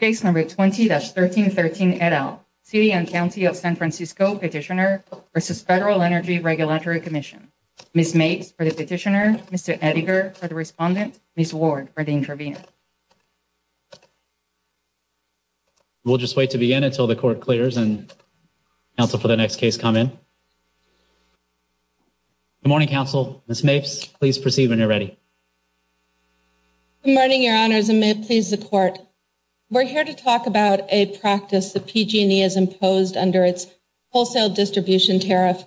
20-1313 et al. City and County of San Francisco Petitioner v. Federal Energy Regulatory Commission. Ms. Mapes for the Petitioner, Mr. Ettinger for the Respondent, Ms. Ward for the Intervener. We'll just wait to begin until the court clears and counsel for the next case come in. Good morning, counsel. Ms. Mapes, please proceed when you're ready. Good morning, Your Honors, and may it please the court. We're here to talk about a practice that PG&E has imposed under its wholesale distribution tariff,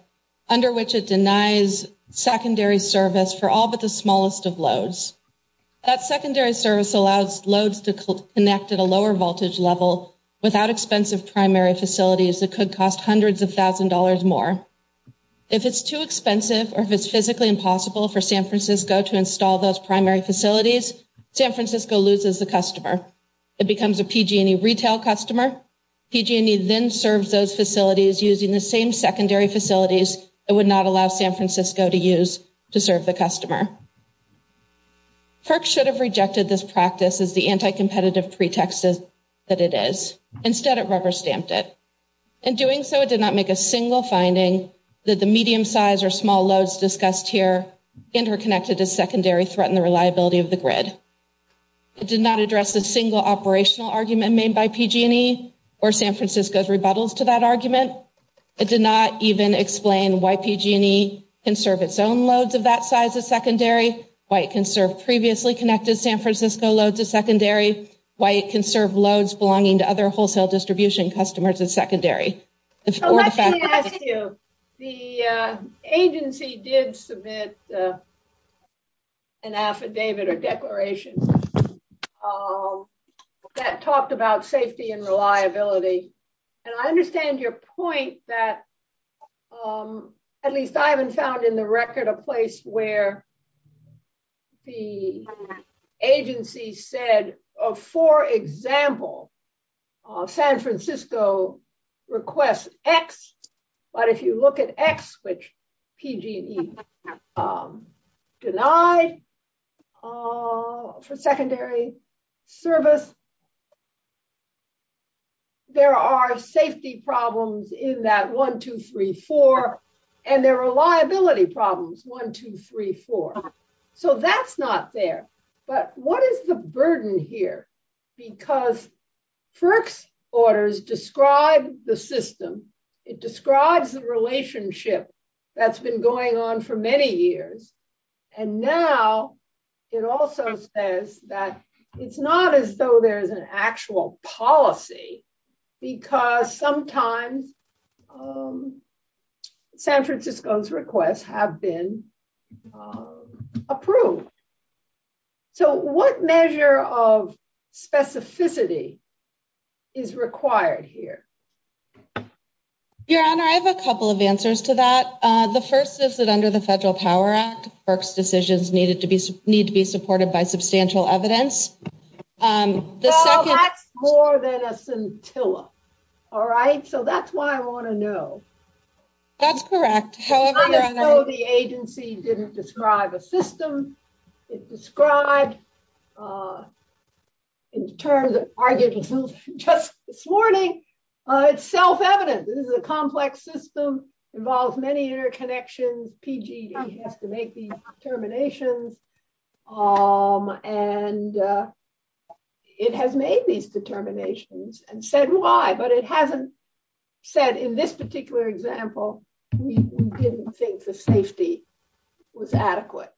under which it denies secondary service for all but the smallest of loads. That secondary service allows loads to connect at a lower voltage level without expensive primary facilities that could cost hundreds of thousands more. If it's too expensive or if it's physically impossible for San Francisco to install those primary facilities, San Francisco loses the customer. It becomes a PG&E retail customer. PG&E then serves those facilities using the same secondary facilities it would not allow San Francisco to use to serve the customer. FERC should have rejected this practice as the anti-competitive pretext that it is. Instead, it rubber-stamped it. In doing so, it did not make a single finding that the medium size or small loads discussed here interconnected to secondary threaten the reliability of the grid. It did not address a single operational argument made by PG&E or San Francisco's rebuttals to that argument. It did not even explain why PG&E can serve its own loads of that size as secondary, why it can serve previously connected San Francisco loads as secondary, why it can serve loads belonging to other wholesale distribution customers as secondary. The agency did submit an affidavit or declaration that talked about safety and reliability. I understand your point that at least I haven't found in the record a place where the agency said, for example, San Francisco requests X, but if you look at X, which PG&E denied for secondary service, there are safety problems in that 1, 2, 3, 4, and there are reliability problems, 1, 2, 3, 4. So that's not there. But what is the burden here? Because FERC's orders describe the system. It describes the relationship that's been going on for many years. And now it also says that it's not as though there's an actual policy because sometimes San Francisco's requests have been approved. So what measure of specificity is required here? Your Honor, I have a couple of answers to that. The first is that under the Federal Power Act, FERC's decisions need to be supported by substantial evidence. Well, that's more than a scintilla. All right. So that's why I want to know. That's correct. It's not as though the agency didn't describe a system. It described in terms of arguments just this morning, it's self-evident. This is a complex system. Involves many interconnections. PG&E has to make these determinations. And it has made these determinations and said why, but it hasn't said in this particular example, we didn't think the safety was adequate.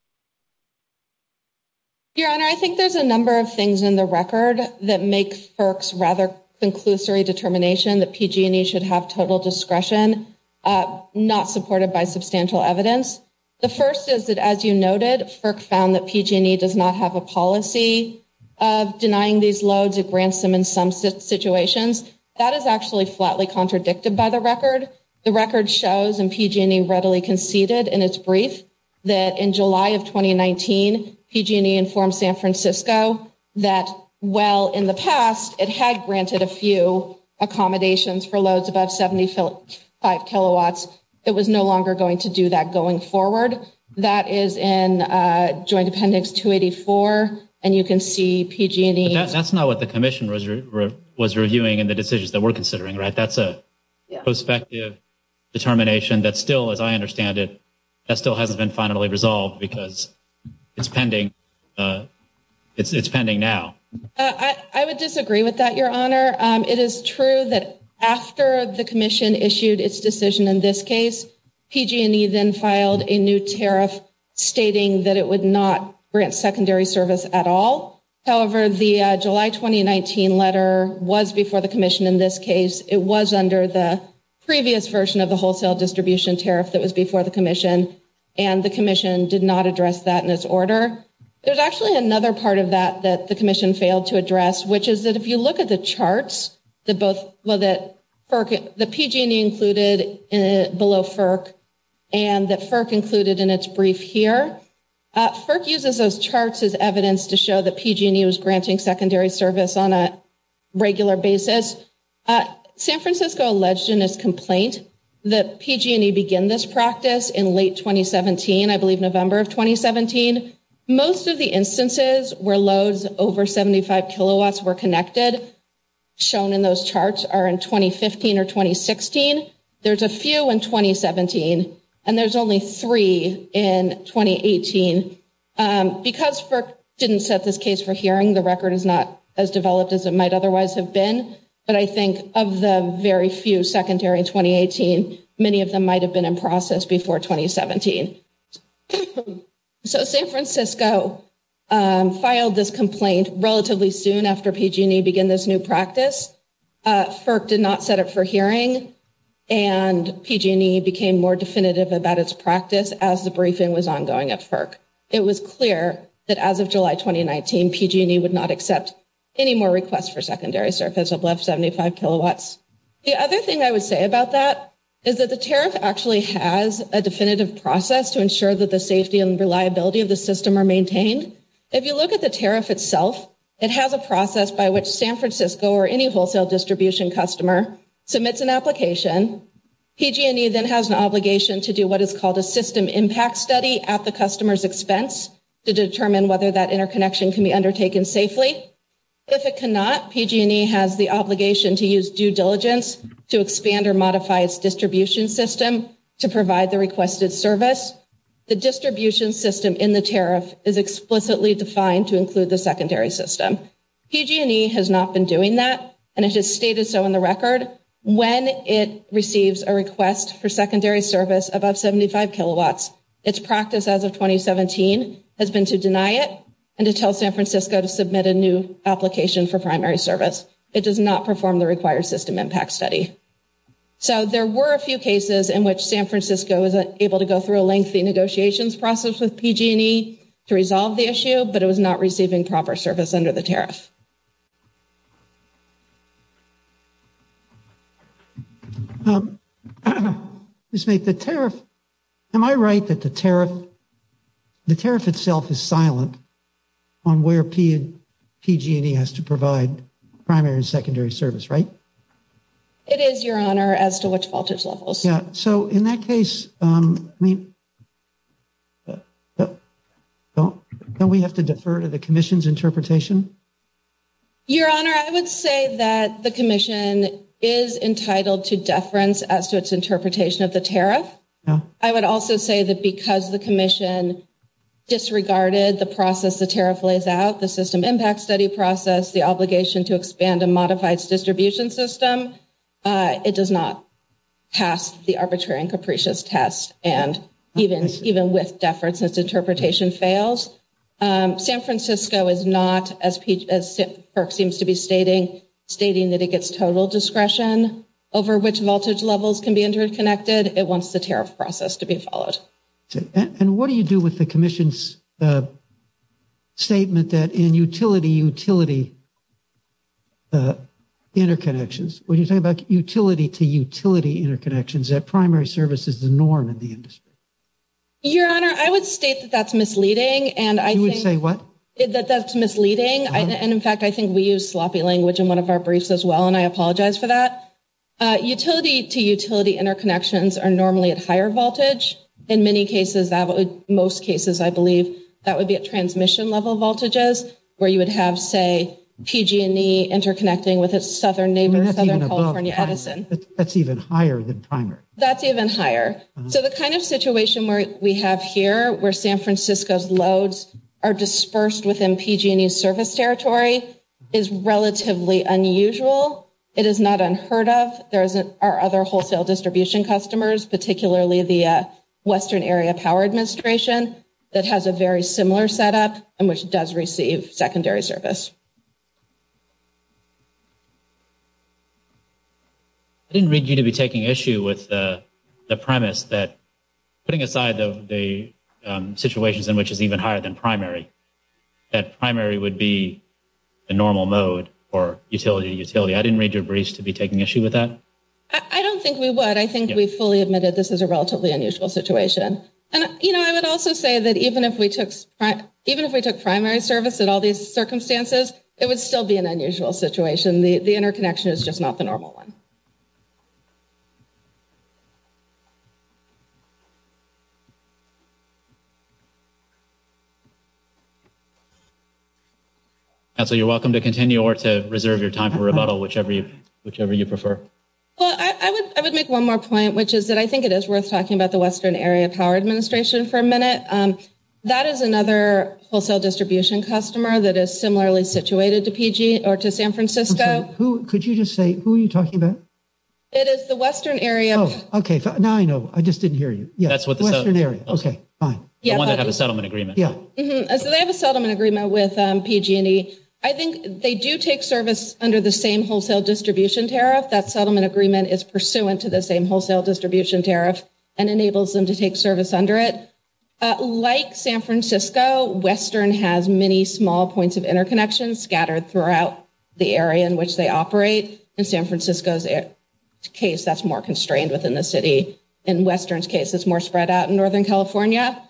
Your Honor, I think there's a number of things in the record that make FERC's rather conclusory determination that PG&E should have total discretion, not supported by substantial evidence. The first is that, as you noted, FERC found that PG&E does not have a policy of denying these loads. It grants them in some situations. That is actually flatly contradicted by the record. The record shows, and PG&E readily conceded in its brief, that in July of 2019, PG&E informed San Francisco that while in the past it had granted a few accommodations for loads above 75 kilowatts, it was no longer going to do that going forward. That is in Joint Appendix 284, and you can see PG&E. That's not what the commission was reviewing in the decisions that we're considering, right? That's a prospective determination that still, as I understand it, that still hasn't been finally resolved because it's pending now. I would disagree with that, Your Honor. It is true that after the commission issued its decision in this case, PG&E then filed a new tariff stating that it would not grant secondary service at all. However, the July 2019 letter was before the commission in this case. It was under the previous version of the wholesale distribution tariff that was before the commission, and the commission did not address that in its order. There's actually another part of that that the commission failed to address, which is that if you look at the charts that PG&E included below FERC and that FERC included in its brief here, FERC uses those charts as evidence to show that PG&E was granting secondary service on a regular basis. San Francisco alleged in its complaint that PG&E began this practice in late 2017, I believe November of 2017. Most of the instances where loads over 75 kilowatts were connected shown in those charts are in 2015 or 2016. There's a few in 2017, and there's only three in 2018. Because FERC didn't set this case for hearing, the record is not as developed as it might otherwise have been. But I think of the very few secondary in 2018, many of them might have been in process before 2017. So San Francisco filed this complaint relatively soon after PG&E began this new practice. FERC did not set it for hearing, and PG&E became more definitive about its practice as the briefing was ongoing at FERC. It was clear that as of July 2019, PG&E would not accept any more requests for secondary service above 75 kilowatts. The other thing I would say about that is that the tariff actually has a definitive process to ensure that the safety and reliability of the system are maintained. If you look at the tariff itself, it has a process by which San Francisco or any wholesale distribution customer submits an application. PG&E then has an obligation to do what is called a system impact study at the customer's expense to determine whether that interconnection can be undertaken safely. If it cannot, PG&E has the obligation to use due diligence to expand or modify its distribution system to provide the requested service. The distribution system in the tariff is explicitly defined to include the secondary system. PG&E has not been doing that, and it has stated so in the record. When it receives a request for secondary service above 75 kilowatts, its practice as of 2017 has been to deny it and to tell San Francisco to submit a new application for primary service. It does not perform the required system impact study. So there were a few cases in which San Francisco was able to go through a lengthy negotiations process with PG&E to resolve the issue, but it was not receiving proper service under the tariff. Am I right that the tariff itself is silent on where PG&E has to provide primary and secondary service, right? It is, Your Honor, as to which voltage levels. Yeah, so in that case, I mean, don't we have to defer to the Commission's interpretation? Your Honor, I would say that the Commission is entitled to deference as to its interpretation of the tariff. I would also say that because the Commission disregarded the process the tariff lays out, the system impact study process, the obligation to expand and modify its distribution system, it does not pass the arbitrary and capricious test. And even with deference, its interpretation fails. San Francisco is not, as PIRC seems to be stating, stating that it gets total discretion over which voltage levels can be interconnected. It wants the tariff process to be followed. And what do you do with the Commission's statement that in utility-utility interconnections, when you're talking about utility-to-utility interconnections, that primary service is the norm in the industry? Your Honor, I would state that that's misleading. You would say what? That that's misleading. And in fact, I think we use sloppy language in one of our briefs as well, and I apologize for that. Utility-to-utility interconnections are normally at higher voltage. In many cases, most cases, I believe, that would be at transmission-level voltages, where you would have, say, PG&E interconnecting with its southern neighbor, Southern California Edison. That's even higher than primary. That's even higher. So the kind of situation we have here, where San Francisco's loads are dispersed within PG&E's service territory, is relatively unusual. It is not unheard of. There are other wholesale distribution customers, particularly the Western Area Power Administration, that has a very similar setup and which does receive secondary service. I didn't read you to be taking issue with the premise that, putting aside the situations in which it's even higher than primary, that primary would be the normal mode for utility-to-utility. I didn't read your briefs to be taking issue with that. I don't think we would. I think we fully admitted this is a relatively unusual situation. I would also say that even if we took primary service in all these circumstances, it would still be an unusual situation. The interconnection is just not the normal one. You're welcome to continue or to reserve your time for rebuttal, whichever you prefer. Well, I would make one more point, which is that I think it is worth talking about the Western Area Power Administration for a minute. That is another wholesale distribution customer that is similarly situated to PG or to San Francisco. Could you just say, who are you talking about? It is the Western Area. Oh, okay. Now I know. I just didn't hear you. That's what the… Western Area. Okay, fine. The one that had a settlement agreement. Yeah. They have a settlement agreement with PG&E. I think they do take service under the same wholesale distribution tariff. That settlement agreement is pursuant to the same wholesale distribution tariff and enables them to take service under it. Like San Francisco, Western has many small points of interconnection scattered throughout the area in which they operate. In San Francisco's case, that's more constrained within the city. In Western's case, it's more spread out in Northern California.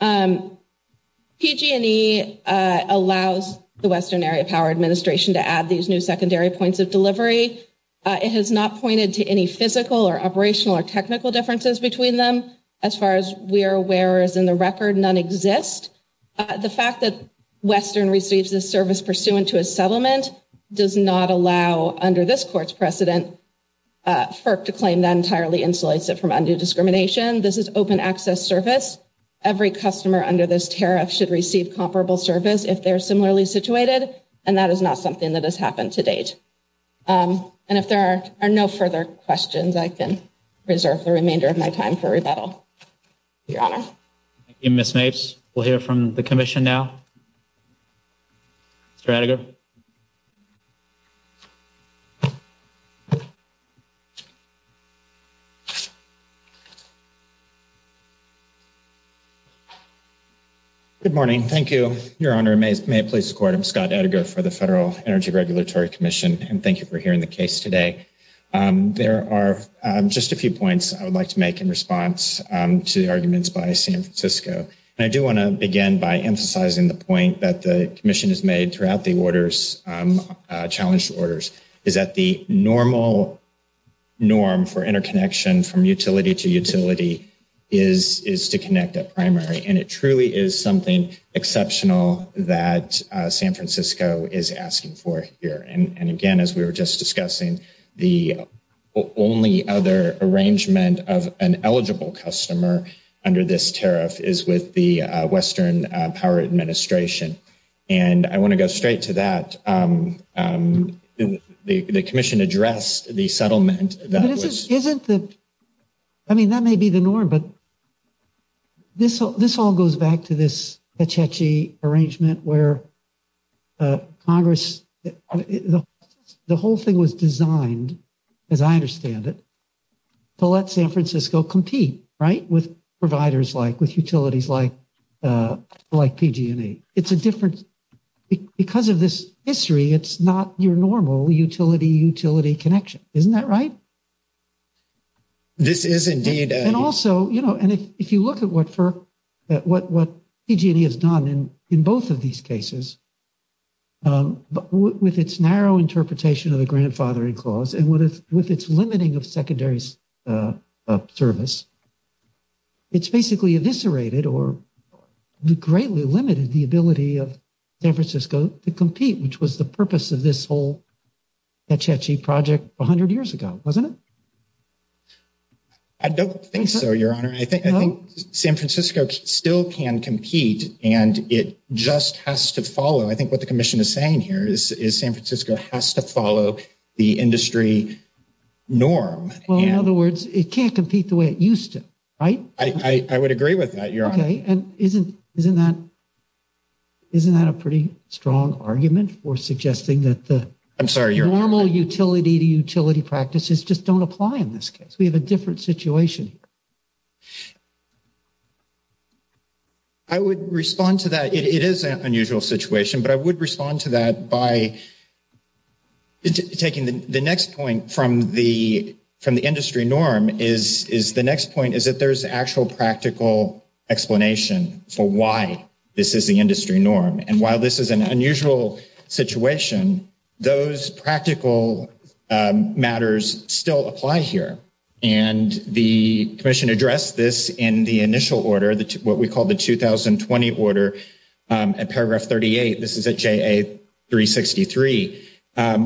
PG&E allows the Western Area Power Administration to add these new secondary points of delivery. It has not pointed to any physical or operational or technical differences between them. As far as we are aware, as in the record, none exist. The fact that Western receives this service pursuant to a settlement does not allow, under this court's precedent, FERC to claim that entirely insulates it from undue discrimination. This is open access service. Every customer under this tariff should receive comparable service if they're similarly situated. And that is not something that has happened to date. And if there are no further questions, I can reserve the remainder of my time for rebuttal. Your Honor. Thank you, Ms. Mapes. We'll hear from the commission now. Mr. Attagir? Good morning. Thank you, Your Honor. May it please the court. I'm Scott Attagir for the Federal Energy Regulatory Commission. And thank you for hearing the case today. There are just a few points I would like to make in response to the arguments by San Francisco. And I do want to begin by emphasizing the point that the commission has made throughout the orders, challenged orders, is that the normal norm for interconnection from utility to utility is to connect at primary. And it truly is something exceptional that San Francisco is asking for here. And, again, as we were just discussing, the only other arrangement of an eligible customer under this tariff is with the Western Power Administration. And I want to go straight to that. The commission addressed the settlement. But isn't the – I mean, that may be the norm, but this all goes back to this Pechechi arrangement where Congress – the whole thing was designed, as I understand it, to let San Francisco compete, right, with providers like – with utilities like PG&E. It's a different – because of this history, it's not your normal utility-utility connection. Isn't that right? This is indeed. And also, you know, and if you look at what PG&E has done in both of these cases, with its narrow interpretation of the grandfathering clause and with its limiting of secondary service, it's basically eviscerated or greatly limited the ability of San Francisco to compete, which was the purpose of this whole Pechechi project 100 years ago, wasn't it? I don't think so, Your Honor. I think San Francisco still can compete, and it just has to follow. I think what the commission is saying here is San Francisco has to follow the industry norm. Well, in other words, it can't compete the way it used to, right? I would agree with that, Your Honor. Okay. And isn't that a pretty strong argument for suggesting that the normal utility-to-utility practices just don't apply in this case? We have a different situation. I would respond to that. It is an unusual situation, but I would respond to that by taking the next point from the industry norm, is the next point is that there's actual practical explanation for why this is the industry norm. And while this is an unusual situation, those practical matters still apply here. And the commission addressed this in the initial order, what we call the 2020 order at paragraph 38. This is at JA363,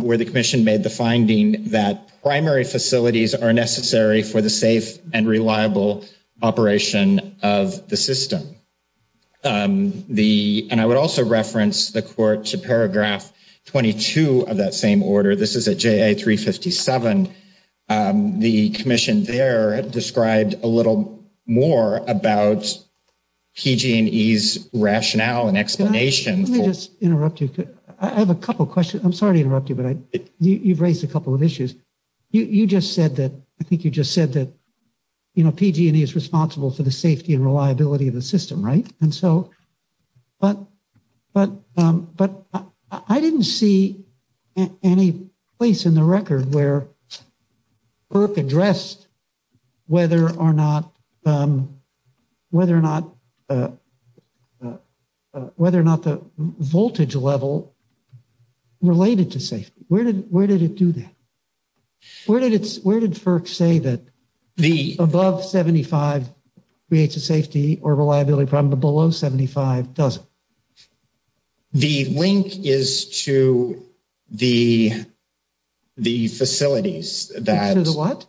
where the commission made the finding that primary facilities are necessary for the safe and reliable operation of the system. And I would also reference the court to paragraph 22 of that same order. This is at JA357. The commission there described a little more about PG&E's rationale and explanation. Let me just interrupt you. I have a couple questions. I'm sorry to interrupt you, but you've raised a couple of issues. You just said that, I think you just said that, you know, PG&E is responsible for the safety and reliability of the system, right? But I didn't see any place in the record where FERC addressed whether or not the voltage level related to safety. Where did it do that? Where did FERC say that above 75 creates a safety or reliability problem, but below 75 doesn't? The link is to the facilities. To the what?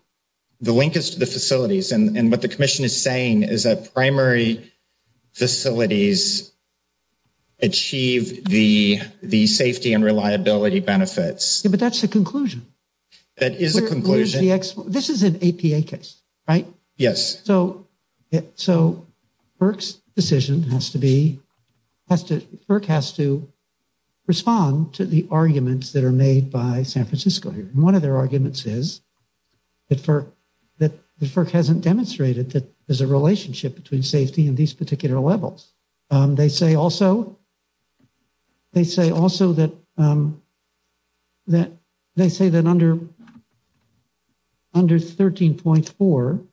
The link is to the facilities. And what the commission is saying is that primary facilities achieve the safety and reliability benefits. But that's the conclusion. That is a conclusion. This is an APA case, right? Yes. So FERC's decision has to be, FERC has to respond to the arguments that are made by San Francisco here. And one of their arguments is that FERC hasn't demonstrated that there's a relationship between safety and these particular levels. They say also that under 13.4,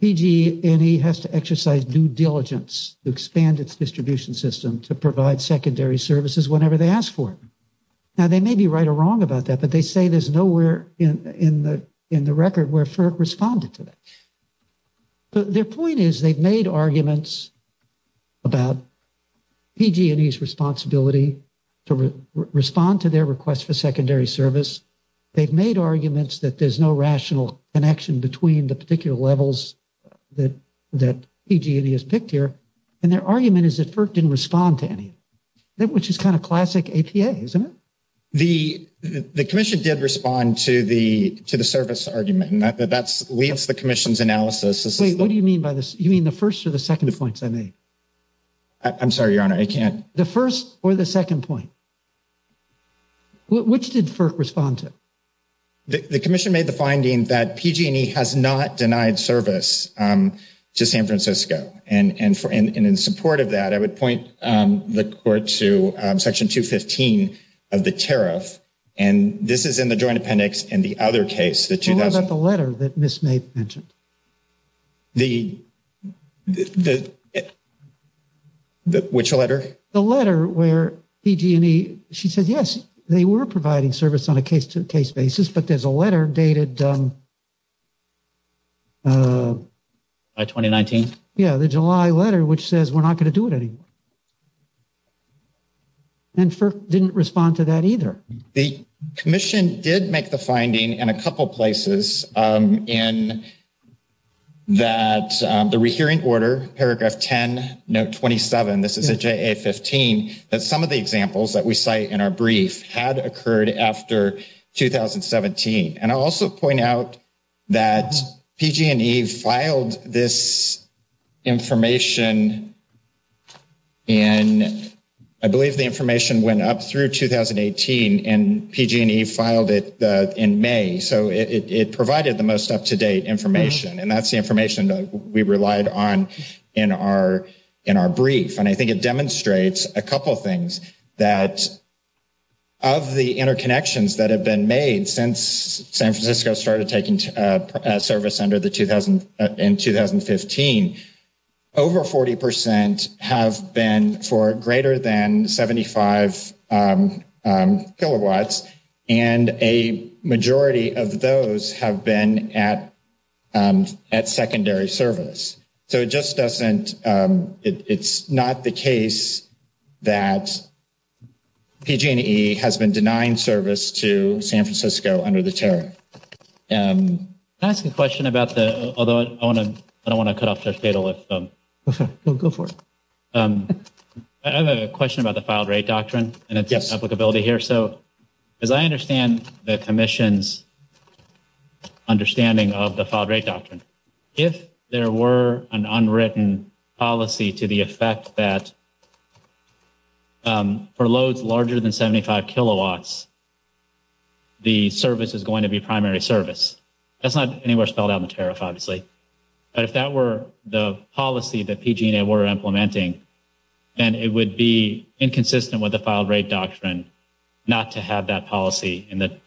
PG&E has to exercise due diligence to expand its distribution system to provide secondary services whenever they ask for it. Now, they may be right or wrong about that, but they say there's nowhere in the record where FERC responded to that. But their point is they've made arguments about PG&E's responsibility to respond to their request for secondary service. They've made arguments that there's no rational connection between the particular levels that PG&E has picked here. And their argument is that FERC didn't respond to any, which is kind of classic APA, isn't it? The commission did respond to the service argument. And that leaves the commission's analysis. Wait, what do you mean by this? You mean the first or the second points I made? I'm sorry, Your Honor, I can't. The first or the second point. Which did FERC respond to? The commission made the finding that PG&E has not denied service to San Francisco. And in support of that, I would point the court to Section 215 of the tariff. And this is in the Joint Appendix and the other case. What about the letter that Ms. May mentioned? Which letter? The letter where PG&E, she said, yes, they were providing service on a case-to-case basis. But there's a letter dated July 2019. Yeah, the July letter, which says we're not going to do it anymore. And FERC didn't respond to that either. The commission did make the finding in a couple places in that the rehearing order, paragraph 10, note 27, this is a JA-15, that some of the examples that we cite in our brief had occurred after 2017. And I'll also point out that PG&E filed this information in, I believe the information went up through 2018, and PG&E filed it in May. So it provided the most up-to-date information. And that's the information that we relied on in our brief. And I think it demonstrates a couple things, that of the interconnections that have been made since San Francisco started taking service in 2015, over 40% have been for greater than 75 kilowatts, and a majority of those have been at secondary service. So it just doesn't, it's not the case that PG&E has been denying service to San Francisco under the tariff. Can I ask a question about the, although I don't want to cut off Judge Badle if... Go for it. I have a question about the filed rate doctrine and its applicability here. So as I understand the commission's understanding of the filed rate doctrine, if there were an unwritten policy to the effect that for loads larger than 75 kilowatts, the service is going to be primary service. That's not anywhere spelled out in the tariff, obviously. But if that were the policy that PG&E were implementing, then it would be inconsistent with the filed rate doctrine not to have that policy in the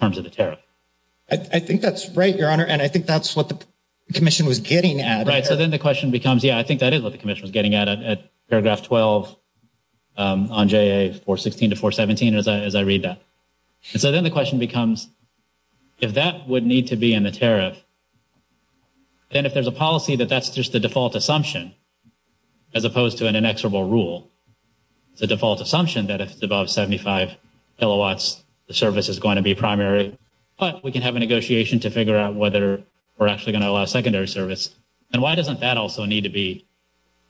terms of the tariff. I think that's right, Your Honor, and I think that's what the commission was getting at. Right, so then the question becomes, yeah, I think that is what the commission was getting at, at paragraph 12 on JA 416 to 417, as I read that. And so then the question becomes, if that would need to be in the tariff, then if there's a policy that that's just a default assumption, as opposed to an inexorable rule, it's a default assumption that if it's above 75 kilowatts, the service is going to be primary, but we can have a negotiation to figure out whether we're actually going to allow secondary service. And why doesn't that also need to be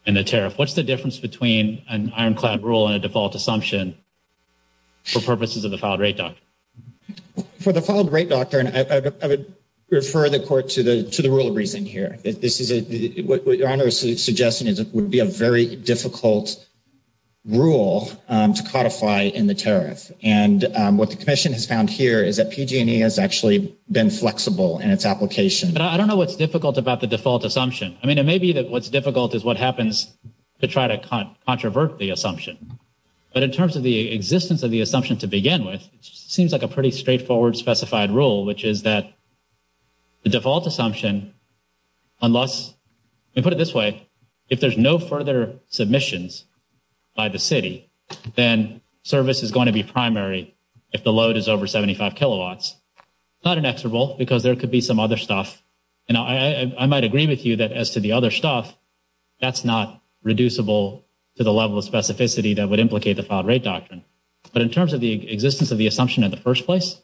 in the tariff? What's the difference between an ironclad rule and a default assumption for purposes of the filed rate doctrine? For the filed rate doctrine, I would refer the court to the rule of reason here. This is what Your Honor is suggesting would be a very difficult rule to codify in the tariff. And what the commission has found here is that PG&E has actually been flexible in its application. But I don't know what's difficult about the default assumption. I mean, it may be that what's difficult is what happens to try to controvert the assumption. But in terms of the existence of the assumption to begin with, it seems like a pretty straightforward specified rule, which is that the default assumption, unless we put it this way, if there's no further submissions by the city, then service is going to be primary if the load is over 75 kilowatts. Not inexorable, because there could be some other stuff. And I might agree with you that as to the other stuff, that's not reducible to the level of specificity that would implicate the filed rate doctrine. But in terms of the existence of the assumption in the first place,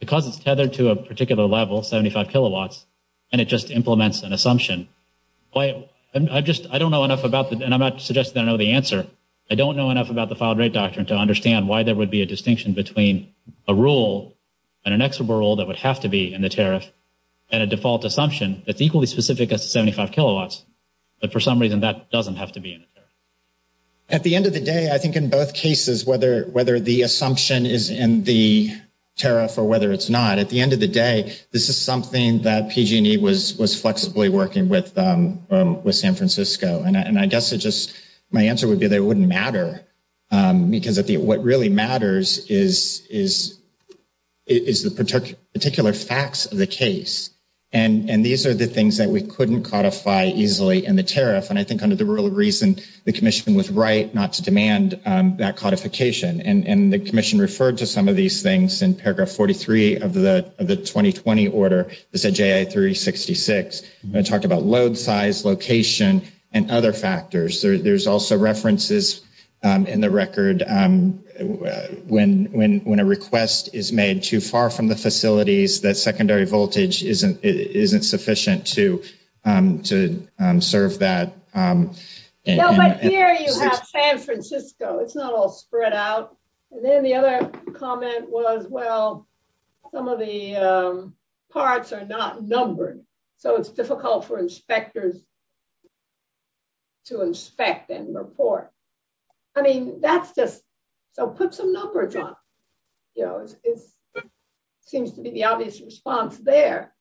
because it's tethered to a particular level, 75 kilowatts, and it just implements an assumption, I don't know enough about it, and I'm not suggesting that I know the answer. I don't know enough about the filed rate doctrine to understand why there would be a distinction between a rule that would have to be in the tariff and a default assumption that's equally specific as to 75 kilowatts, but for some reason that doesn't have to be in the tariff. At the end of the day, I think in both cases, whether the assumption is in the tariff or whether it's not, at the end of the day, this is something that PG&E was flexibly working with San Francisco. And I guess my answer would be that it wouldn't matter because what really matters is the particular facts of the case. And these are the things that we couldn't codify easily in the tariff. And I think under the rule of reason, the commission was right not to demand that codification. And the commission referred to some of these things in paragraph 43 of the 2020 order that said J.A. 366. It talked about load size, location, and other factors. There's also references in the record when a request is made too far from the facilities, that secondary voltage isn't sufficient to serve that. But here you have San Francisco. It's not all spread out. And then the other comment was, well, some of the parts are not numbered. So it's difficult for inspectors to inspect and report. I mean, that's just so put some numbers on. You know, it seems to be the obvious response there.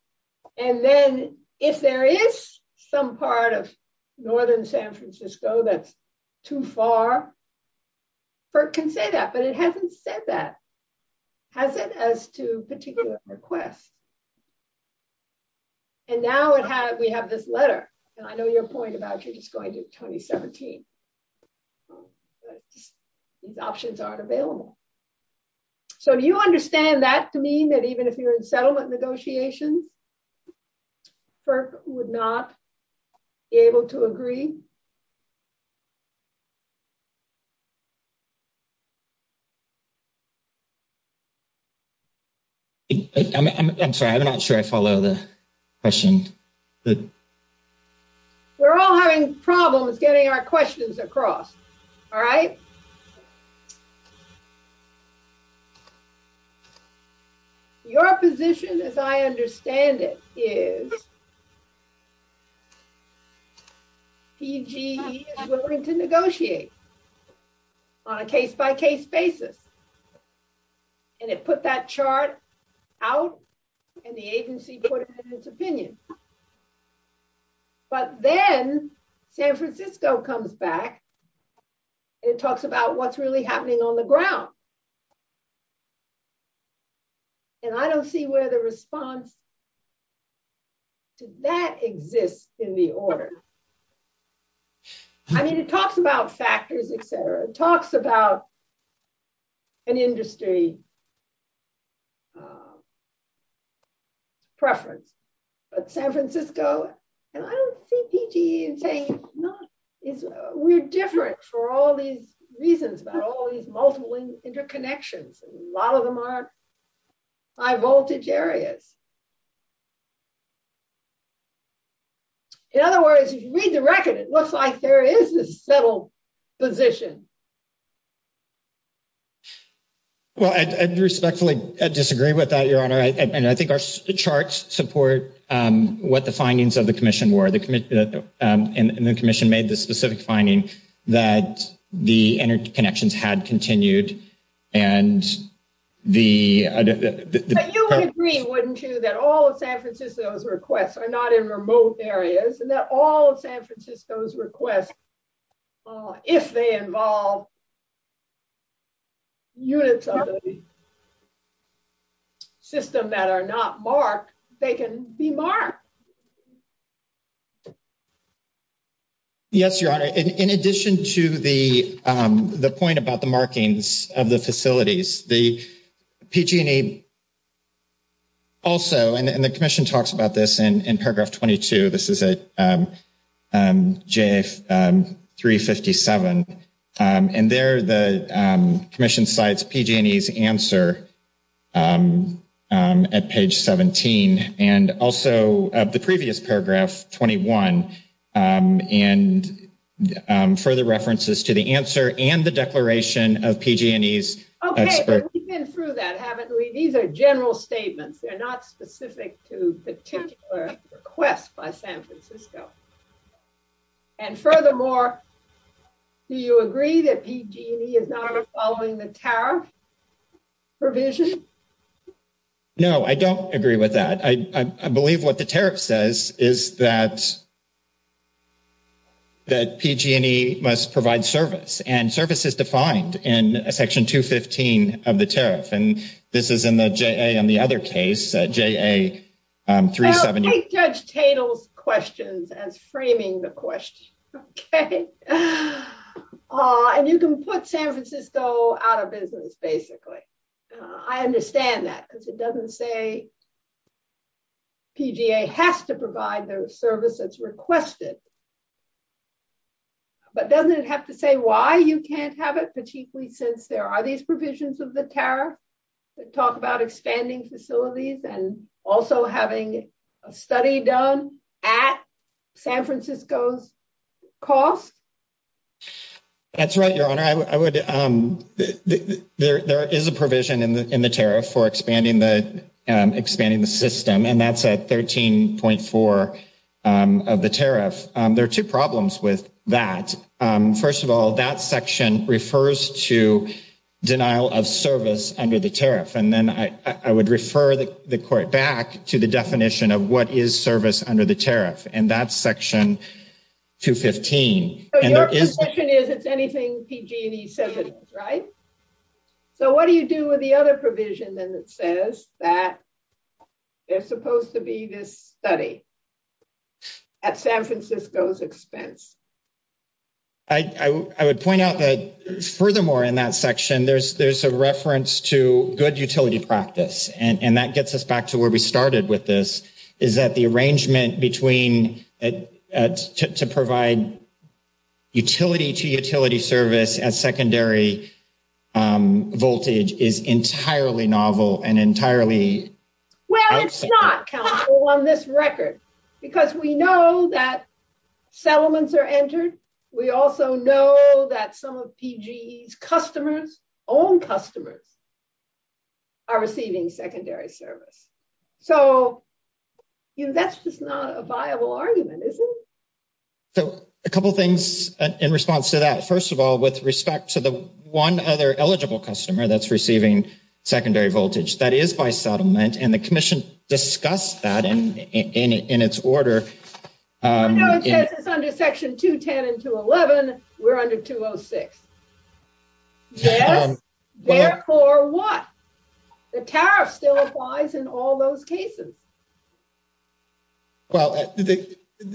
And then if there is some part of northern San Francisco that's too far, FERC can say that. But it hasn't said that, has it, as to particular requests. And now we have this letter. And I know your point about you're just going to 2017. These options aren't available. So do you understand that to mean that even if you're in settlement negotiations, FERC would not be able to agree? I'm sorry. I'm not sure I follow the question. We're all having problems getting our questions across. All right. Your position, as I understand it, is PGE is willing to negotiate on a case by case basis. And it put that chart out and the agency put in its opinion. But then San Francisco comes back. It talks about what's really happening on the ground. And I don't see where the response to that exists in the order. I mean, it talks about factors, et cetera. It talks about an industry preference. But San Francisco and I don't see PGE saying we're different for all these reasons about all these multiple interconnections. A lot of them are high voltage areas. In other words, if you read the record, it looks like there is a settled position. Well, I respectfully disagree with that, Your Honor. And I think our charts support what the findings of the commission were. The commission and the commission made the specific finding that the interconnections had continued. But you would agree, wouldn't you, that all of San Francisco's requests are not in remote areas. And that all of San Francisco's requests, if they involve units of the system that are not marked, they can be marked. Yes, Your Honor, in addition to the point about the markings of the facilities, the PG&E. Also, and the commission talks about this in paragraph 22, this is a JF 357. And there the commission sites PG&E's answer at page 17. And also the previous paragraph 21. And further references to the answer and the declaration of PG&E's. Okay, we've been through that, haven't we? These are general statements. They're not specific to particular requests by San Francisco. And furthermore, do you agree that PG&E is not following the tariff provision? No, I don't agree with that. I believe what the tariff says is that PG&E must provide service. And service is defined in section 215 of the tariff. And this is in the JA on the other case, JA 378. Well, take Judge Tatel's questions as framing the question. And you can put San Francisco out of business, basically. I understand that because it doesn't say. PGA has to provide the service that's requested. But doesn't it have to say why you can't have it, particularly since there are these provisions of the tariff. Talk about expanding facilities and also having a study done at San Francisco's cost. That's right, Your Honor. There is a provision in the tariff for expanding the system. And that's at 13.4 of the tariff. There are two problems with that. First of all, that section refers to denial of service under the tariff. And then I would refer the court back to the definition of what is service under the tariff. And that's section 215. Your conception is it's anything PG&E says it is, right? So what do you do with the other provision that says that there's supposed to be this study at San Francisco's expense? I would point out that, furthermore, in that section, there's a reference to good utility practice. And that gets us back to where we started with this, is that the arrangement to provide utility-to-utility service at secondary voltage is entirely novel and entirely... Well, it's not, counsel, on this record. Because we know that settlements are entered. We also know that some of PG&E's customers, own customers, are receiving secondary service. So that's just not a viable argument, is it? So a couple things in response to that. First of all, with respect to the one other eligible customer that's receiving secondary voltage. That is by settlement. And the commission discussed that in its order. No, it says it's under section 210 and 211. We're under 206. Yes. Therefore what? The tariff still applies in all those cases. Well,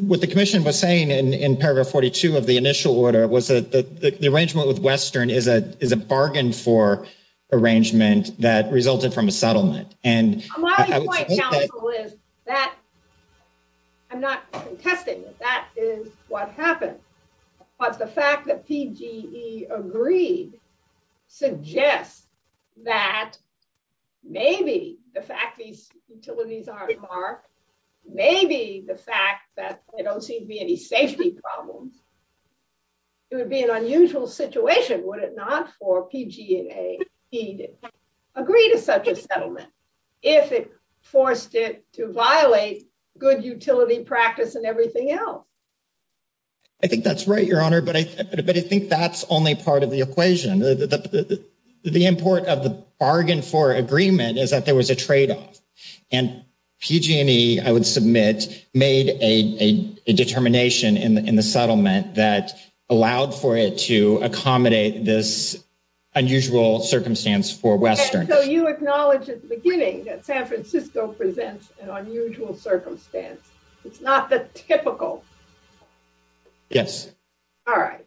what the commission was saying in paragraph 42 of the initial order was that the arrangement with Western is a bargain for arrangement that resulted from a settlement. My point, counsel, is that I'm not contesting that that is what happened. But the fact that PG&E agreed suggests that maybe the fact these utilities aren't marked, maybe the fact that there don't seem to be any safety problems. It would be an unusual situation, would it not, for PG&E to agree to such a settlement. If it forced it to violate good utility practice and everything else. I think that's right, Your Honor. But I think that's only part of the equation. The import of the bargain for agreement is that there was a tradeoff. And PG&E, I would submit, made a determination in the settlement that allowed for it to accommodate this unusual circumstance for Western. So you acknowledge at the beginning that San Francisco presents an unusual circumstance. It's not the typical. Yes. All right.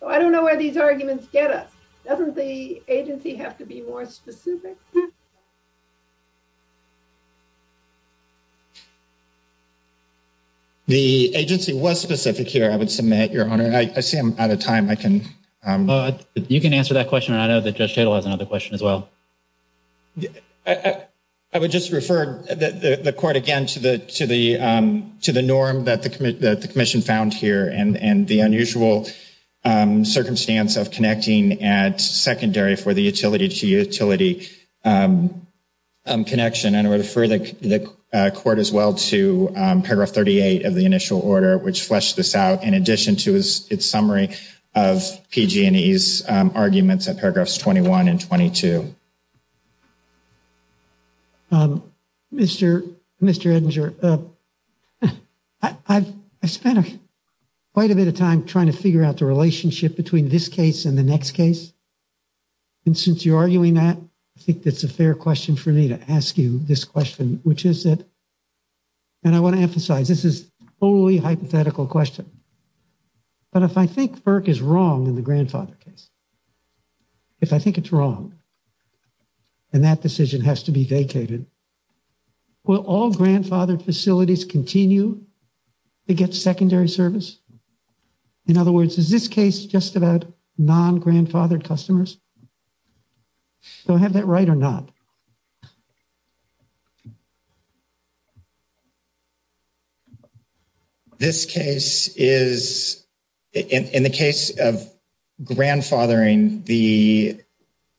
So I don't know where these arguments get us. Doesn't the agency have to be more specific? The agency was specific here, I would submit, Your Honor. I see I'm out of time. You can answer that question. I know that Judge Chadle has another question as well. I would just refer the court again to the norm that the commission found here and the unusual circumstance of connecting at secondary for the utility to utility connection. And I would refer the court as well to paragraph 38 of the initial order, which fleshed this out in addition to its summary of PG&E's arguments at paragraphs 21 and 22. Mr. Edinger, I've spent quite a bit of time trying to figure out the relationship between this case and the next case. And since you're arguing that, I think that's a fair question for me to ask you this question. Which is it? And I want to emphasize this is a totally hypothetical question. But if I think Burke is wrong in the grandfather case. If I think it's wrong. And that decision has to be vacated. Will all grandfathered facilities continue to get secondary service? In other words, is this case just about non-grandfathered customers? Do I have that right or not? This case is in the case of grandfathering the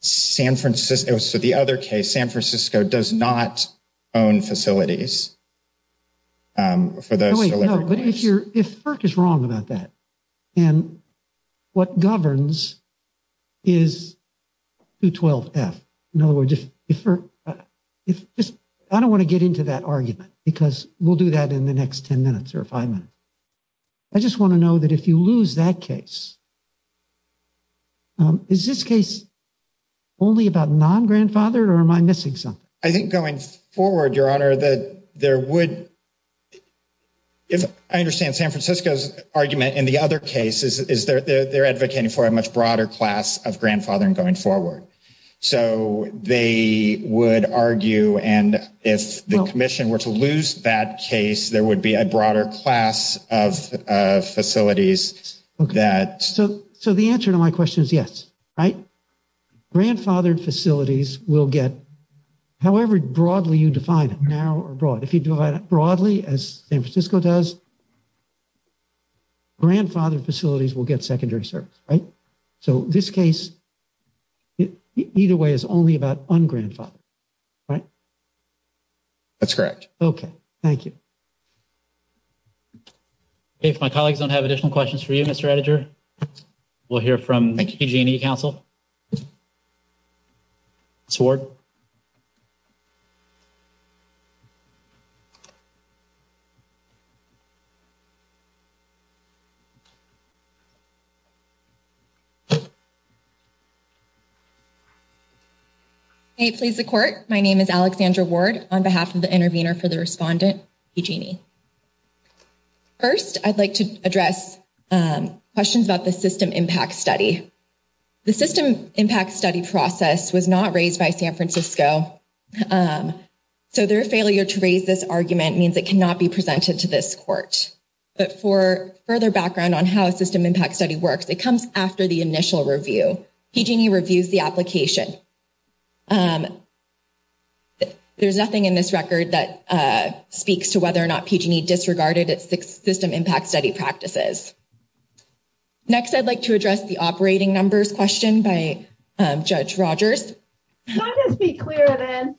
San Francisco. So the other case, San Francisco does not own facilities. For those, but if you're if Burke is wrong about that. And what governs is to 12 F. In other words, if I don't want to get into that argument, because we'll do that in the next 10 minutes or five minutes. I just want to know that if you lose that case. Is this case only about non-grandfathered or am I missing something? I think going forward, your honor, that there would. If I understand San Francisco's argument in the other cases, is there they're advocating for a much broader class of grandfathering going forward. So they would argue. And if the commission were to lose that case, there would be a broader class of facilities that. So so the answer to my question is yes. Right. Grandfathered facilities will get. However, broadly, you define it now abroad, if you do it broadly as San Francisco does. Grandfathered facilities will get secondary service, right? So this case. Either way is only about on grandfather. Right. That's correct. Okay. Thank you. If my colleagues don't have additional questions for you, Mr. editor, we'll hear from the council. Sword. Hey, please, the court. My name is Alexandra Ward on behalf of the intervener for the respondent. First, I'd like to address questions about the system impact study. The system impact study process was not raised by San Francisco. So their failure to raise this argument means it cannot be presented to this court. But for further background on how a system impact study works, it comes after the initial review. He reviews the application. There's nothing in this record that speaks to whether or not PGD disregarded its system impact study practices. Next, I'd like to address the operating numbers question by judge Rogers. Let's be clear then.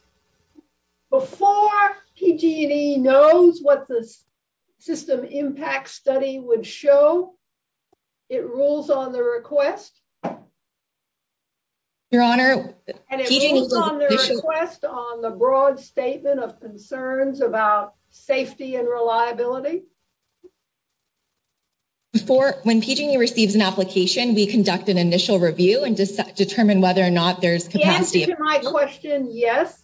Before he knows what the system impact study would show. It rules on the request. Your honor. On the broad statement of concerns about safety and reliability. Before when PG receives an application, we conduct an initial review and determine whether or not there's capacity. My question. Yes.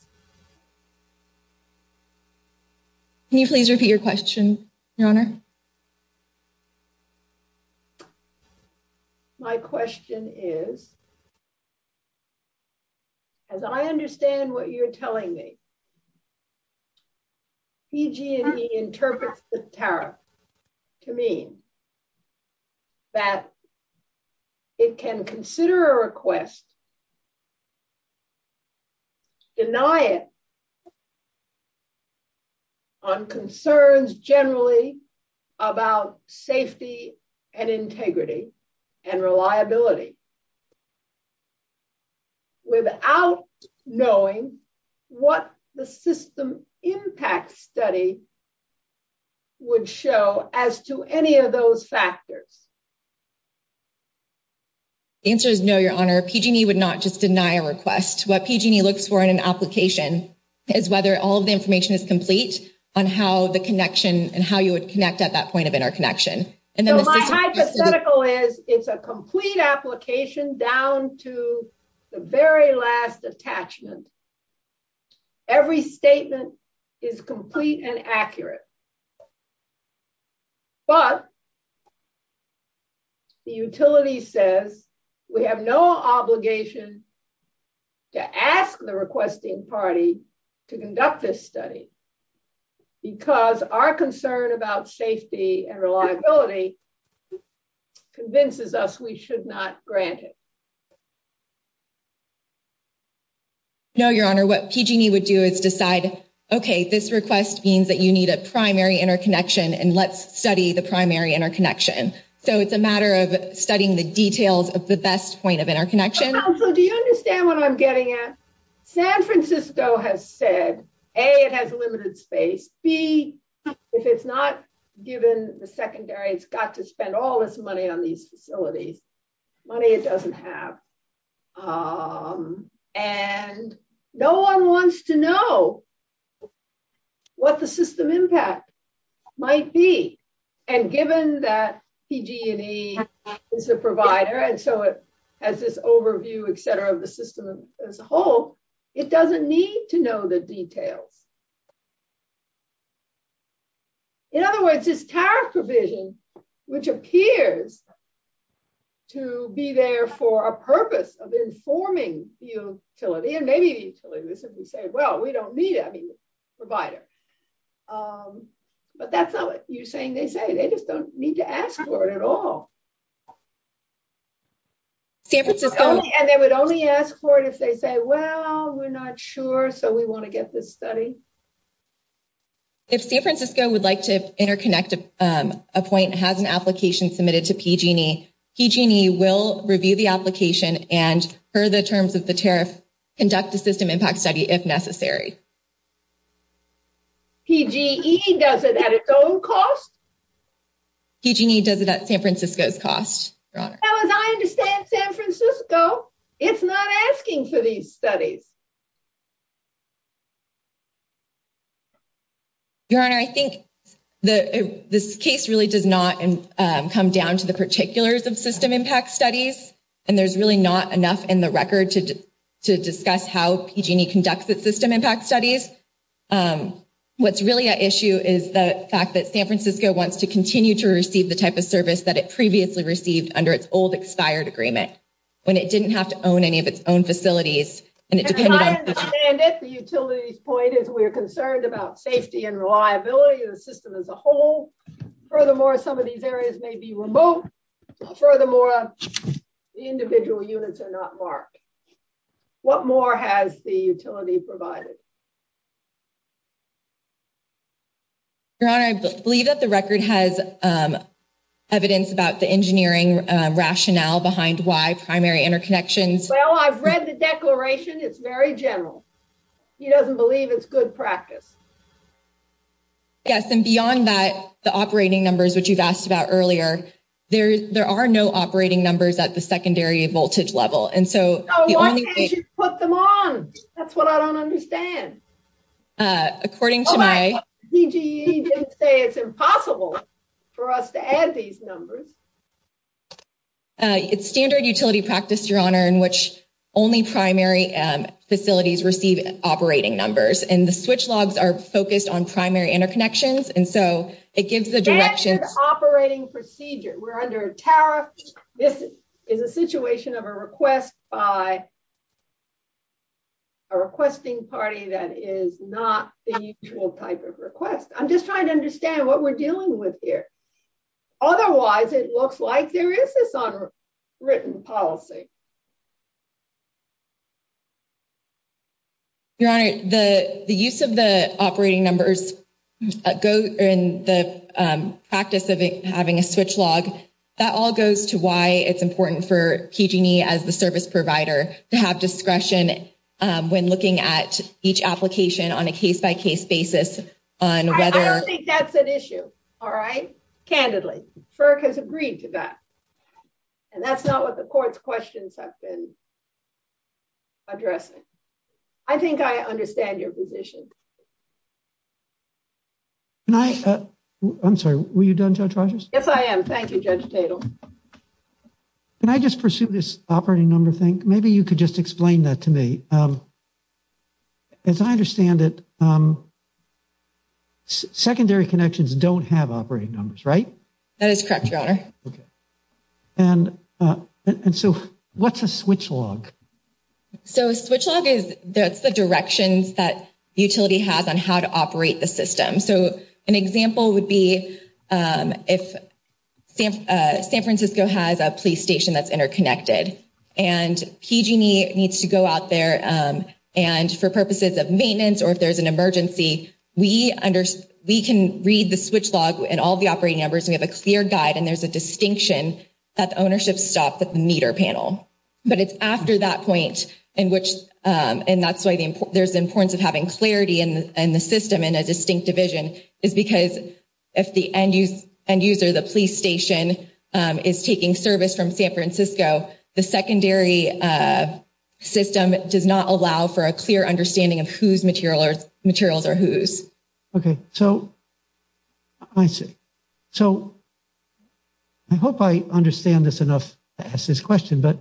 Can you please repeat your question, your honor. My question is. As I understand what you're telling me. He interprets the tariff. To me. That. It can consider a request. Deny it. On concerns generally about safety and integrity and reliability. Without knowing what the system impact study. Would show as to any of those factors. The answer is no, your honor PGD would not just deny a request. What PGD looks for in an application is whether all of the information is complete on how the connection and how you would connect at that point of interconnection. My hypothetical is it's a complete application down to the very last attachment. Every statement is complete and accurate. But. The utility says we have no obligation. To ask the requesting party to conduct this study. Because our concern about safety and reliability. Convinces us we should not grant it. No, your honor, what PGD would do is decide. Okay. This request means that you need a primary interconnection and let's study the primary interconnection. So, it's a matter of studying the details of the best point of interconnection. Do you understand what I'm getting at? San Francisco has said a, it has limited space B. If it's not given the secondary, it's got to spend all this money on these facilities. Money it doesn't have. And no one wants to know what the system impact might be. And given that PG&E is a provider and so it has this overview, etc. of the system as a whole, it doesn't need to know the details. In other words, this tariff provision, which appears to be there for a purpose of informing the utility, and maybe the utility would simply say, well, we don't need a provider. But that's not what you're saying. They say they just don't need to ask for it at all. And they would only ask for it if they say, well, we're not sure, so we want to get this study. If San Francisco would like to interconnect a point and has an application submitted to PG&E, PG&E will review the application and per the terms of the tariff, conduct a system impact study if necessary. PG&E does it at its own cost? PG&E does it at San Francisco's cost. As I understand San Francisco, it's not asking for these studies. Your Honor, I think this case really does not come down to the particulars of system impact studies. And there's really not enough in the record to discuss how PG&E conducts its system impact studies. What's really an issue is the fact that San Francisco wants to continue to receive the type of service that it previously received under its old expired agreement when it didn't have to own any of its own facilities. As I understand it, the utility's point is we're concerned about safety and reliability of the system as a whole. Furthermore, some of these areas may be remote. Furthermore, the individual units are not marked. What more has the utility provided? Your Honor, I believe that the record has evidence about the engineering rationale behind why primary interconnections… Well, I've read the declaration. It's very general. He doesn't believe it's good practice. Yes, and beyond that, the operating numbers, which you've asked about earlier, there are no operating numbers at the secondary voltage level. Why can't you put them on? That's what I don't understand. According to my… PG&E didn't say it's impossible for us to add these numbers. It's standard utility practice, Your Honor, in which only primary facilities receive operating numbers. And the switch logs are focused on primary interconnections, and so it gives the direction… That's an operating procedure. We're under a tariff. This is a situation of a request by a requesting party that is not the usual type of request. I'm just trying to understand what we're dealing with here. Otherwise, it looks like there is this unwritten policy. Your Honor, the use of the operating numbers in the practice of having a switch log, that all goes to why it's important for PG&E as the service provider to have discretion when looking at each application on a case-by-case basis on whether… It's an issue, all right? Candidly, FERC has agreed to that. And that's not what the court's questions have been addressing. I think I understand your position. Can I… I'm sorry, were you done, Judge Rogers? Yes, I am. Thank you, Judge Tatel. Can I just pursue this operating number thing? Maybe you could just explain that to me. As I understand it, secondary connections don't have operating numbers, right? That is correct, Your Honor. And so, what's a switch log? So, a switch log is… that's the directions that utility has on how to operate the system. So, an example would be if San Francisco has a police station that's interconnected, and PG&E needs to go out there, and for purposes of maintenance or if there's an emergency, we can read the switch log and all the operating numbers, and we have a clear guide, and there's a distinction that the ownership stop at the meter panel. But it's after that point in which… and that's why there's importance of having clarity in the system in a distinct division, is because if the end user, the police station, is taking service from San Francisco, the secondary system does not allow for a clear understanding of whose materials are whose. Okay. So, I see. So, I hope I understand this enough to ask this question, but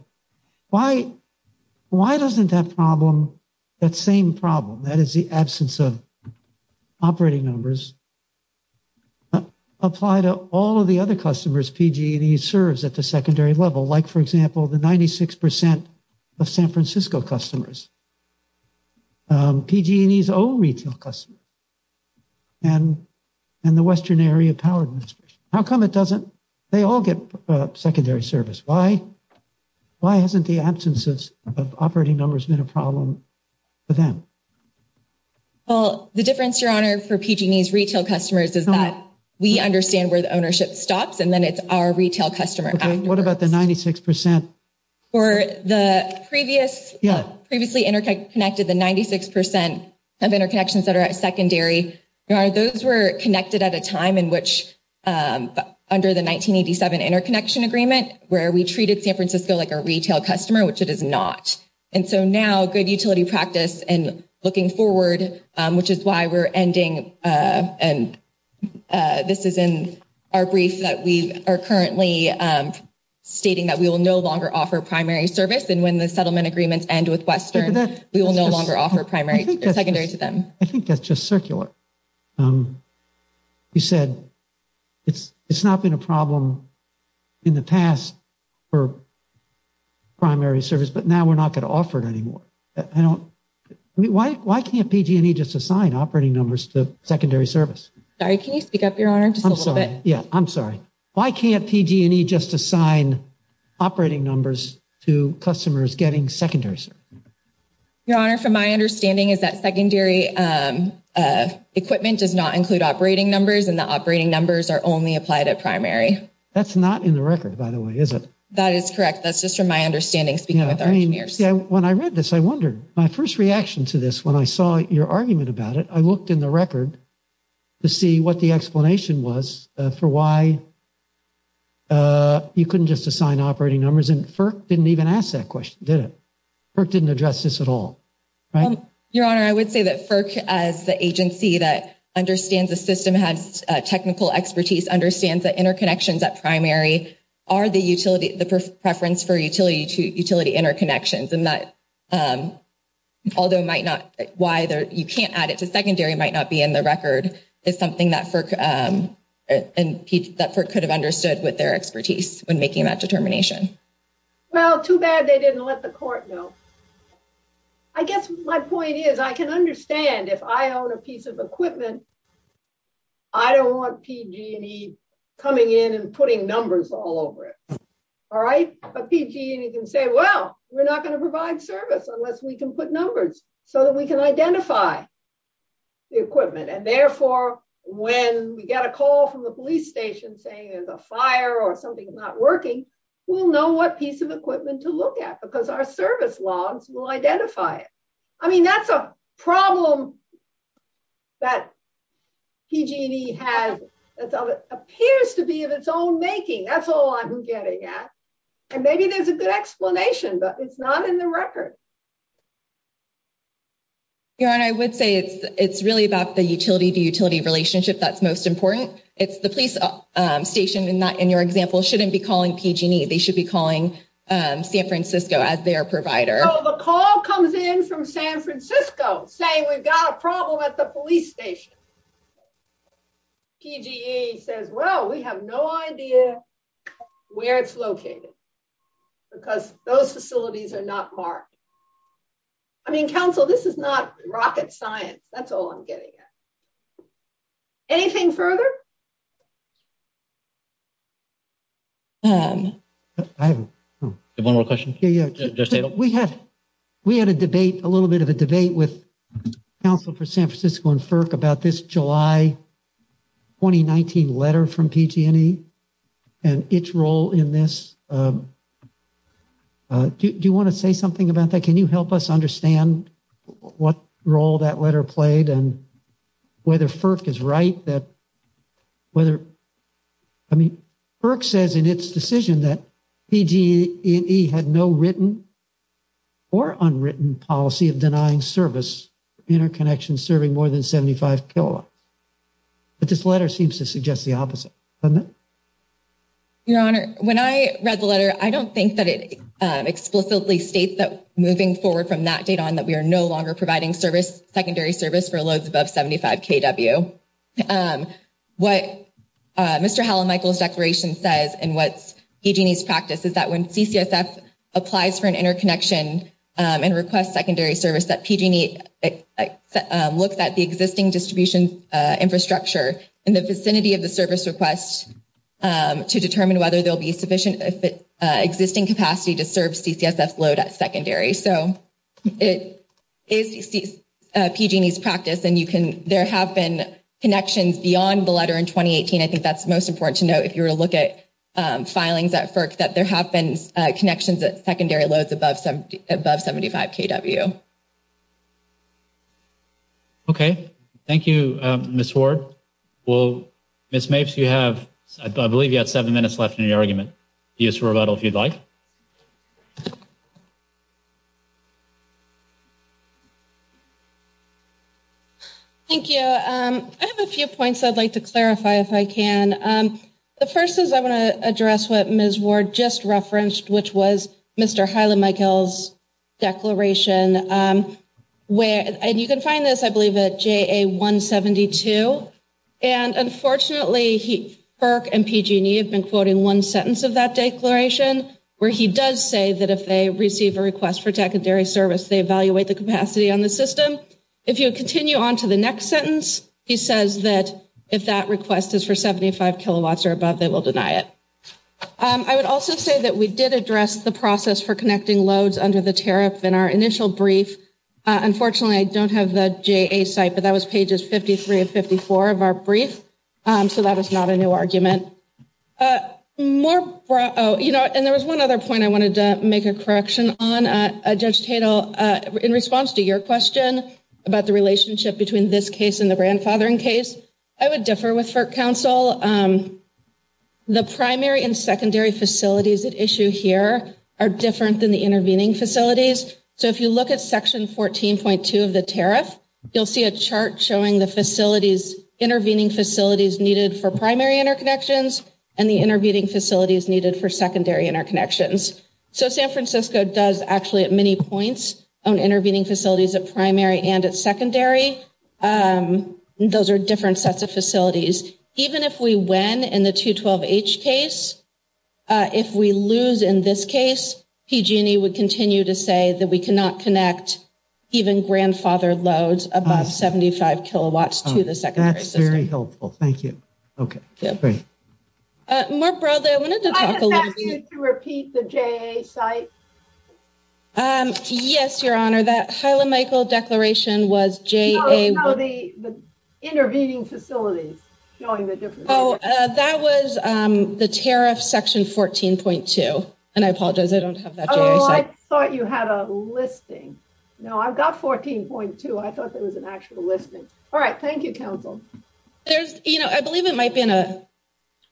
why doesn't that problem, that same problem, that is the absence of operating numbers, apply to all of the other customers PG&E serves at the secondary level, like, for example, the 96% of San Francisco customers, PG&E's own retail customers, and the Western Area Power Administration? How come it doesn't… they all get secondary service? Well, the difference, Your Honor, for PG&E's retail customers is that we understand where the ownership stops, and then it's our retail customer afterwards. Okay. What about the 96%? For the previous… Yeah. Previously interconnected, the 96% of interconnections that are at secondary, Your Honor, those were connected at a time in which, under the 1987 interconnection agreement, where we treated San Francisco like a retail customer, which it is not. And so now, good utility practice and looking forward, which is why we're ending, and this is in our brief that we are currently stating that we will no longer offer primary service, and when the settlement agreements end with Western, we will no longer offer primary or secondary to them. I think that's just circular. You said it's not been a problem in the past for primary service, but now we're not going to offer it anymore. I don't… Why can't PG&E just assign operating numbers to secondary service? Sorry, can you speak up, Your Honor, just a little bit? I'm sorry. Yeah, I'm sorry. Why can't PG&E just assign operating numbers to customers getting secondary service? Your Honor, from my understanding, is that secondary equipment does not include operating numbers, and the operating numbers are only applied at primary. That's not in the record, by the way, is it? That is correct. That's just from my understanding, speaking with our engineers. Yeah, when I read this, I wondered. My first reaction to this, when I saw your argument about it, I looked in the record to see what the explanation was for why you couldn't just assign operating numbers, and FERC didn't even ask that question, did it? FERC didn't address this at all, right? Your Honor, I would say that FERC, as the agency that understands the system, has technical expertise, understands that interconnections at primary are the preference for utility interconnections, and that, although you can't add it to secondary, might not be in the record, is something that FERC could have understood with their expertise when making that determination. Well, too bad they didn't let the court know. I guess my point is, I can understand if I own a piece of equipment, I don't want PG&E coming in and putting numbers on it. There's numbers all over it, all right? But PG&E can say, well, we're not going to provide service unless we can put numbers so that we can identify the equipment. And therefore, when we get a call from the police station saying there's a fire or something's not working, we'll know what piece of equipment to look at because our service logs will identify it. I mean, that's a problem that PG&E has, that appears to be of its own making. That's all I'm getting at. And maybe there's a good explanation, but it's not in the record. Your Honor, I would say it's really about the utility-to-utility relationship that's most important. It's the police station, in your example, shouldn't be calling PG&E. They should be calling San Francisco as their provider. So the call comes in from San Francisco saying we've got a problem at the police station. PG&E says, well, we have no idea where it's located because those facilities are not marked. I mean, counsel, this is not rocket science. That's all I'm getting at. Anything further? I have one more question. We had a debate, a little bit of a debate with counsel for San Francisco and FERC about this July 2019 letter from PG&E and its role in this. Do you want to say something about that? Can you help us understand what role that letter played and whether FERC is right that whether, I mean, FERC says in its decision that PG&E had no written or unwritten policy of denying service for interconnections serving more than 75 kilowatts. But this letter seems to suggest the opposite. Doesn't it? Your Honor, when I read the letter, I don't think that it explicitly states that moving forward from that date on that we are no longer providing service, secondary service for loads above 75 kW. What Mr. Hall and Michael's declaration says and what's PG&E's practice is that when CCSF applies for an interconnection and requests secondary service, that PG&E looks at the existing distribution infrastructure in the vicinity of the service request to determine whether there'll be sufficient existing capacity to serve CCSF load at secondary. So it is PG&E's practice, and there have been connections beyond the letter in 2018. I think that's most important to note if you were to look at filings at FERC that there have been connections at secondary loads above 75 kW. Okay. Thank you, Ms. Ward. Well, Ms. Mapes, you have, I believe you have seven minutes left in your argument. Use rebuttal if you'd like. Thank you. I have a few points I'd like to clarify if I can. The first is I want to address what Ms. Ward just referenced, which was Mr. Hall and Michael's declaration. And you can find this, I believe, at JA 172. And unfortunately, FERC and PG&E have been quoting one sentence of that declaration where he does say that if they receive a request for secondary service, they evaluate the capacity on the system. If you continue on to the next sentence, he says that if that request is for 75 kW or above, they will deny it. I would also say that we did address the process for connecting loads under the tariff in our initial brief and unfortunately, I don't have the JA site, but that was pages 53 and 54 of our brief. So that is not a new argument. And there was one other point I wanted to make a correction on. Judge Tatel, in response to your question about the relationship between this case and the grandfathering case, I would differ with FERC counsel. The primary and secondary facilities at issue here are different than the intervening facilities. So if you look at Section 14.2 of the tariff, you'll see a chart showing the intervening facilities needed for primary interconnections and the intervening facilities needed for secondary interconnections. So San Francisco does actually at many points own intervening facilities at primary and at secondary. Those are different sets of facilities. Even if we win in the 212H case, if we lose in this case, PG&E would continue to say that we cannot connect even grandfathered loads above 75 kilowatts to the secondary system. That's very helpful. Thank you. More broadly, I wanted to talk a little bit. Do I have to ask you to repeat the JA site? Yes, Your Honor. That Hyla-Michael declaration was JA. No, no, the intervening facilities showing the difference. Oh, that was the tariff, Section 14.2. And I apologize, I don't have that JA site. Oh, I thought you had a listing. No, I've got 14.2. I thought there was an actual listing. All right. Thank you, counsel. There's, you know, I believe it might be in a,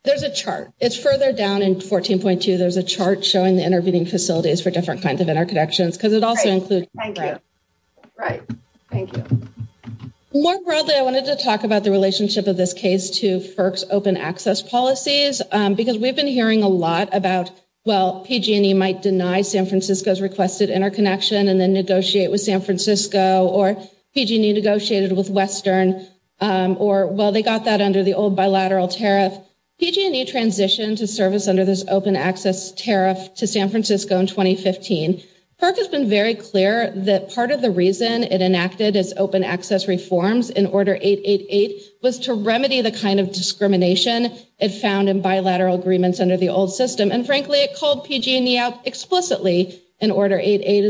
there's a chart. It's further down in 14.2. There's a chart showing the intervening facilities for different kinds of interconnections because it also includes. Right. Thank you. More broadly, I wanted to talk about the relationship of this case to FERC's open access policies because we've been hearing a lot about, well, PG&E might deny San Francisco's requested interconnection and then negotiate with San Francisco or PG&E negotiated with Western or, well, they got that under the old bilateral tariff. PG&E transitioned to service under this open access tariff to San Francisco in 2015. FERC has been very clear that part of the reason it enacted its open access reforms in Order 888 was to remedy the kind of discrimination it found in bilateral agreements under the old system. And frankly, it called PG&E out explicitly in Order 888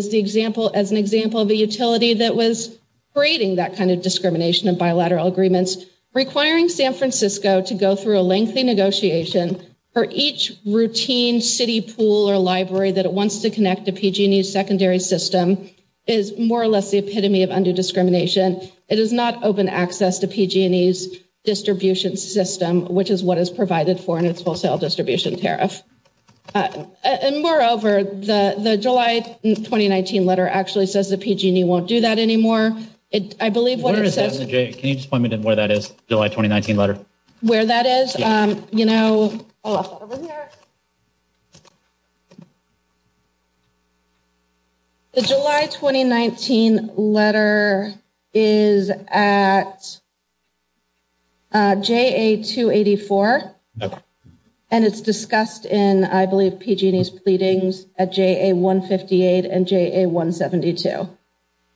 as an example of a utility that was creating that kind of discrimination in bilateral agreements, requiring San Francisco to go through a lengthy negotiation for each routine city pool or library that it wants to connect to PG&E's secondary system is more or less the epitome of undue discrimination. It is not open access to PG&E's distribution system, which is what it's provided for in its wholesale distribution tariff. And moreover, the July 2019 letter actually says that PG&E won't do that anymore. I believe what it says... Where is that? Jay, can you just point me to where that is, July 2019 letter? Where that is? You know... I left that over here. The July 2019 letter is at JA-284. And it's discussed in, I believe, PG&E's pleadings at JA-158 and JA-172.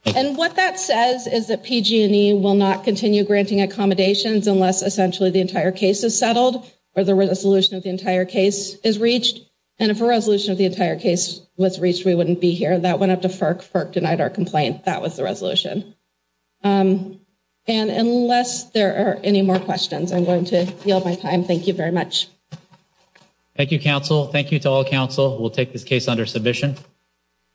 And what that says is that PG&E will not continue granting accommodations unless essentially the entire case is settled or the resolution of the entire case is reached. And if a resolution of the entire case was reached, we wouldn't be here. That went up to FERC. FERC denied our complaint. That was the resolution. And unless there are any more questions, I'm going to end my time. Thank you very much. Thank you, counsel. Thank you to all counsel who will take this case under submission.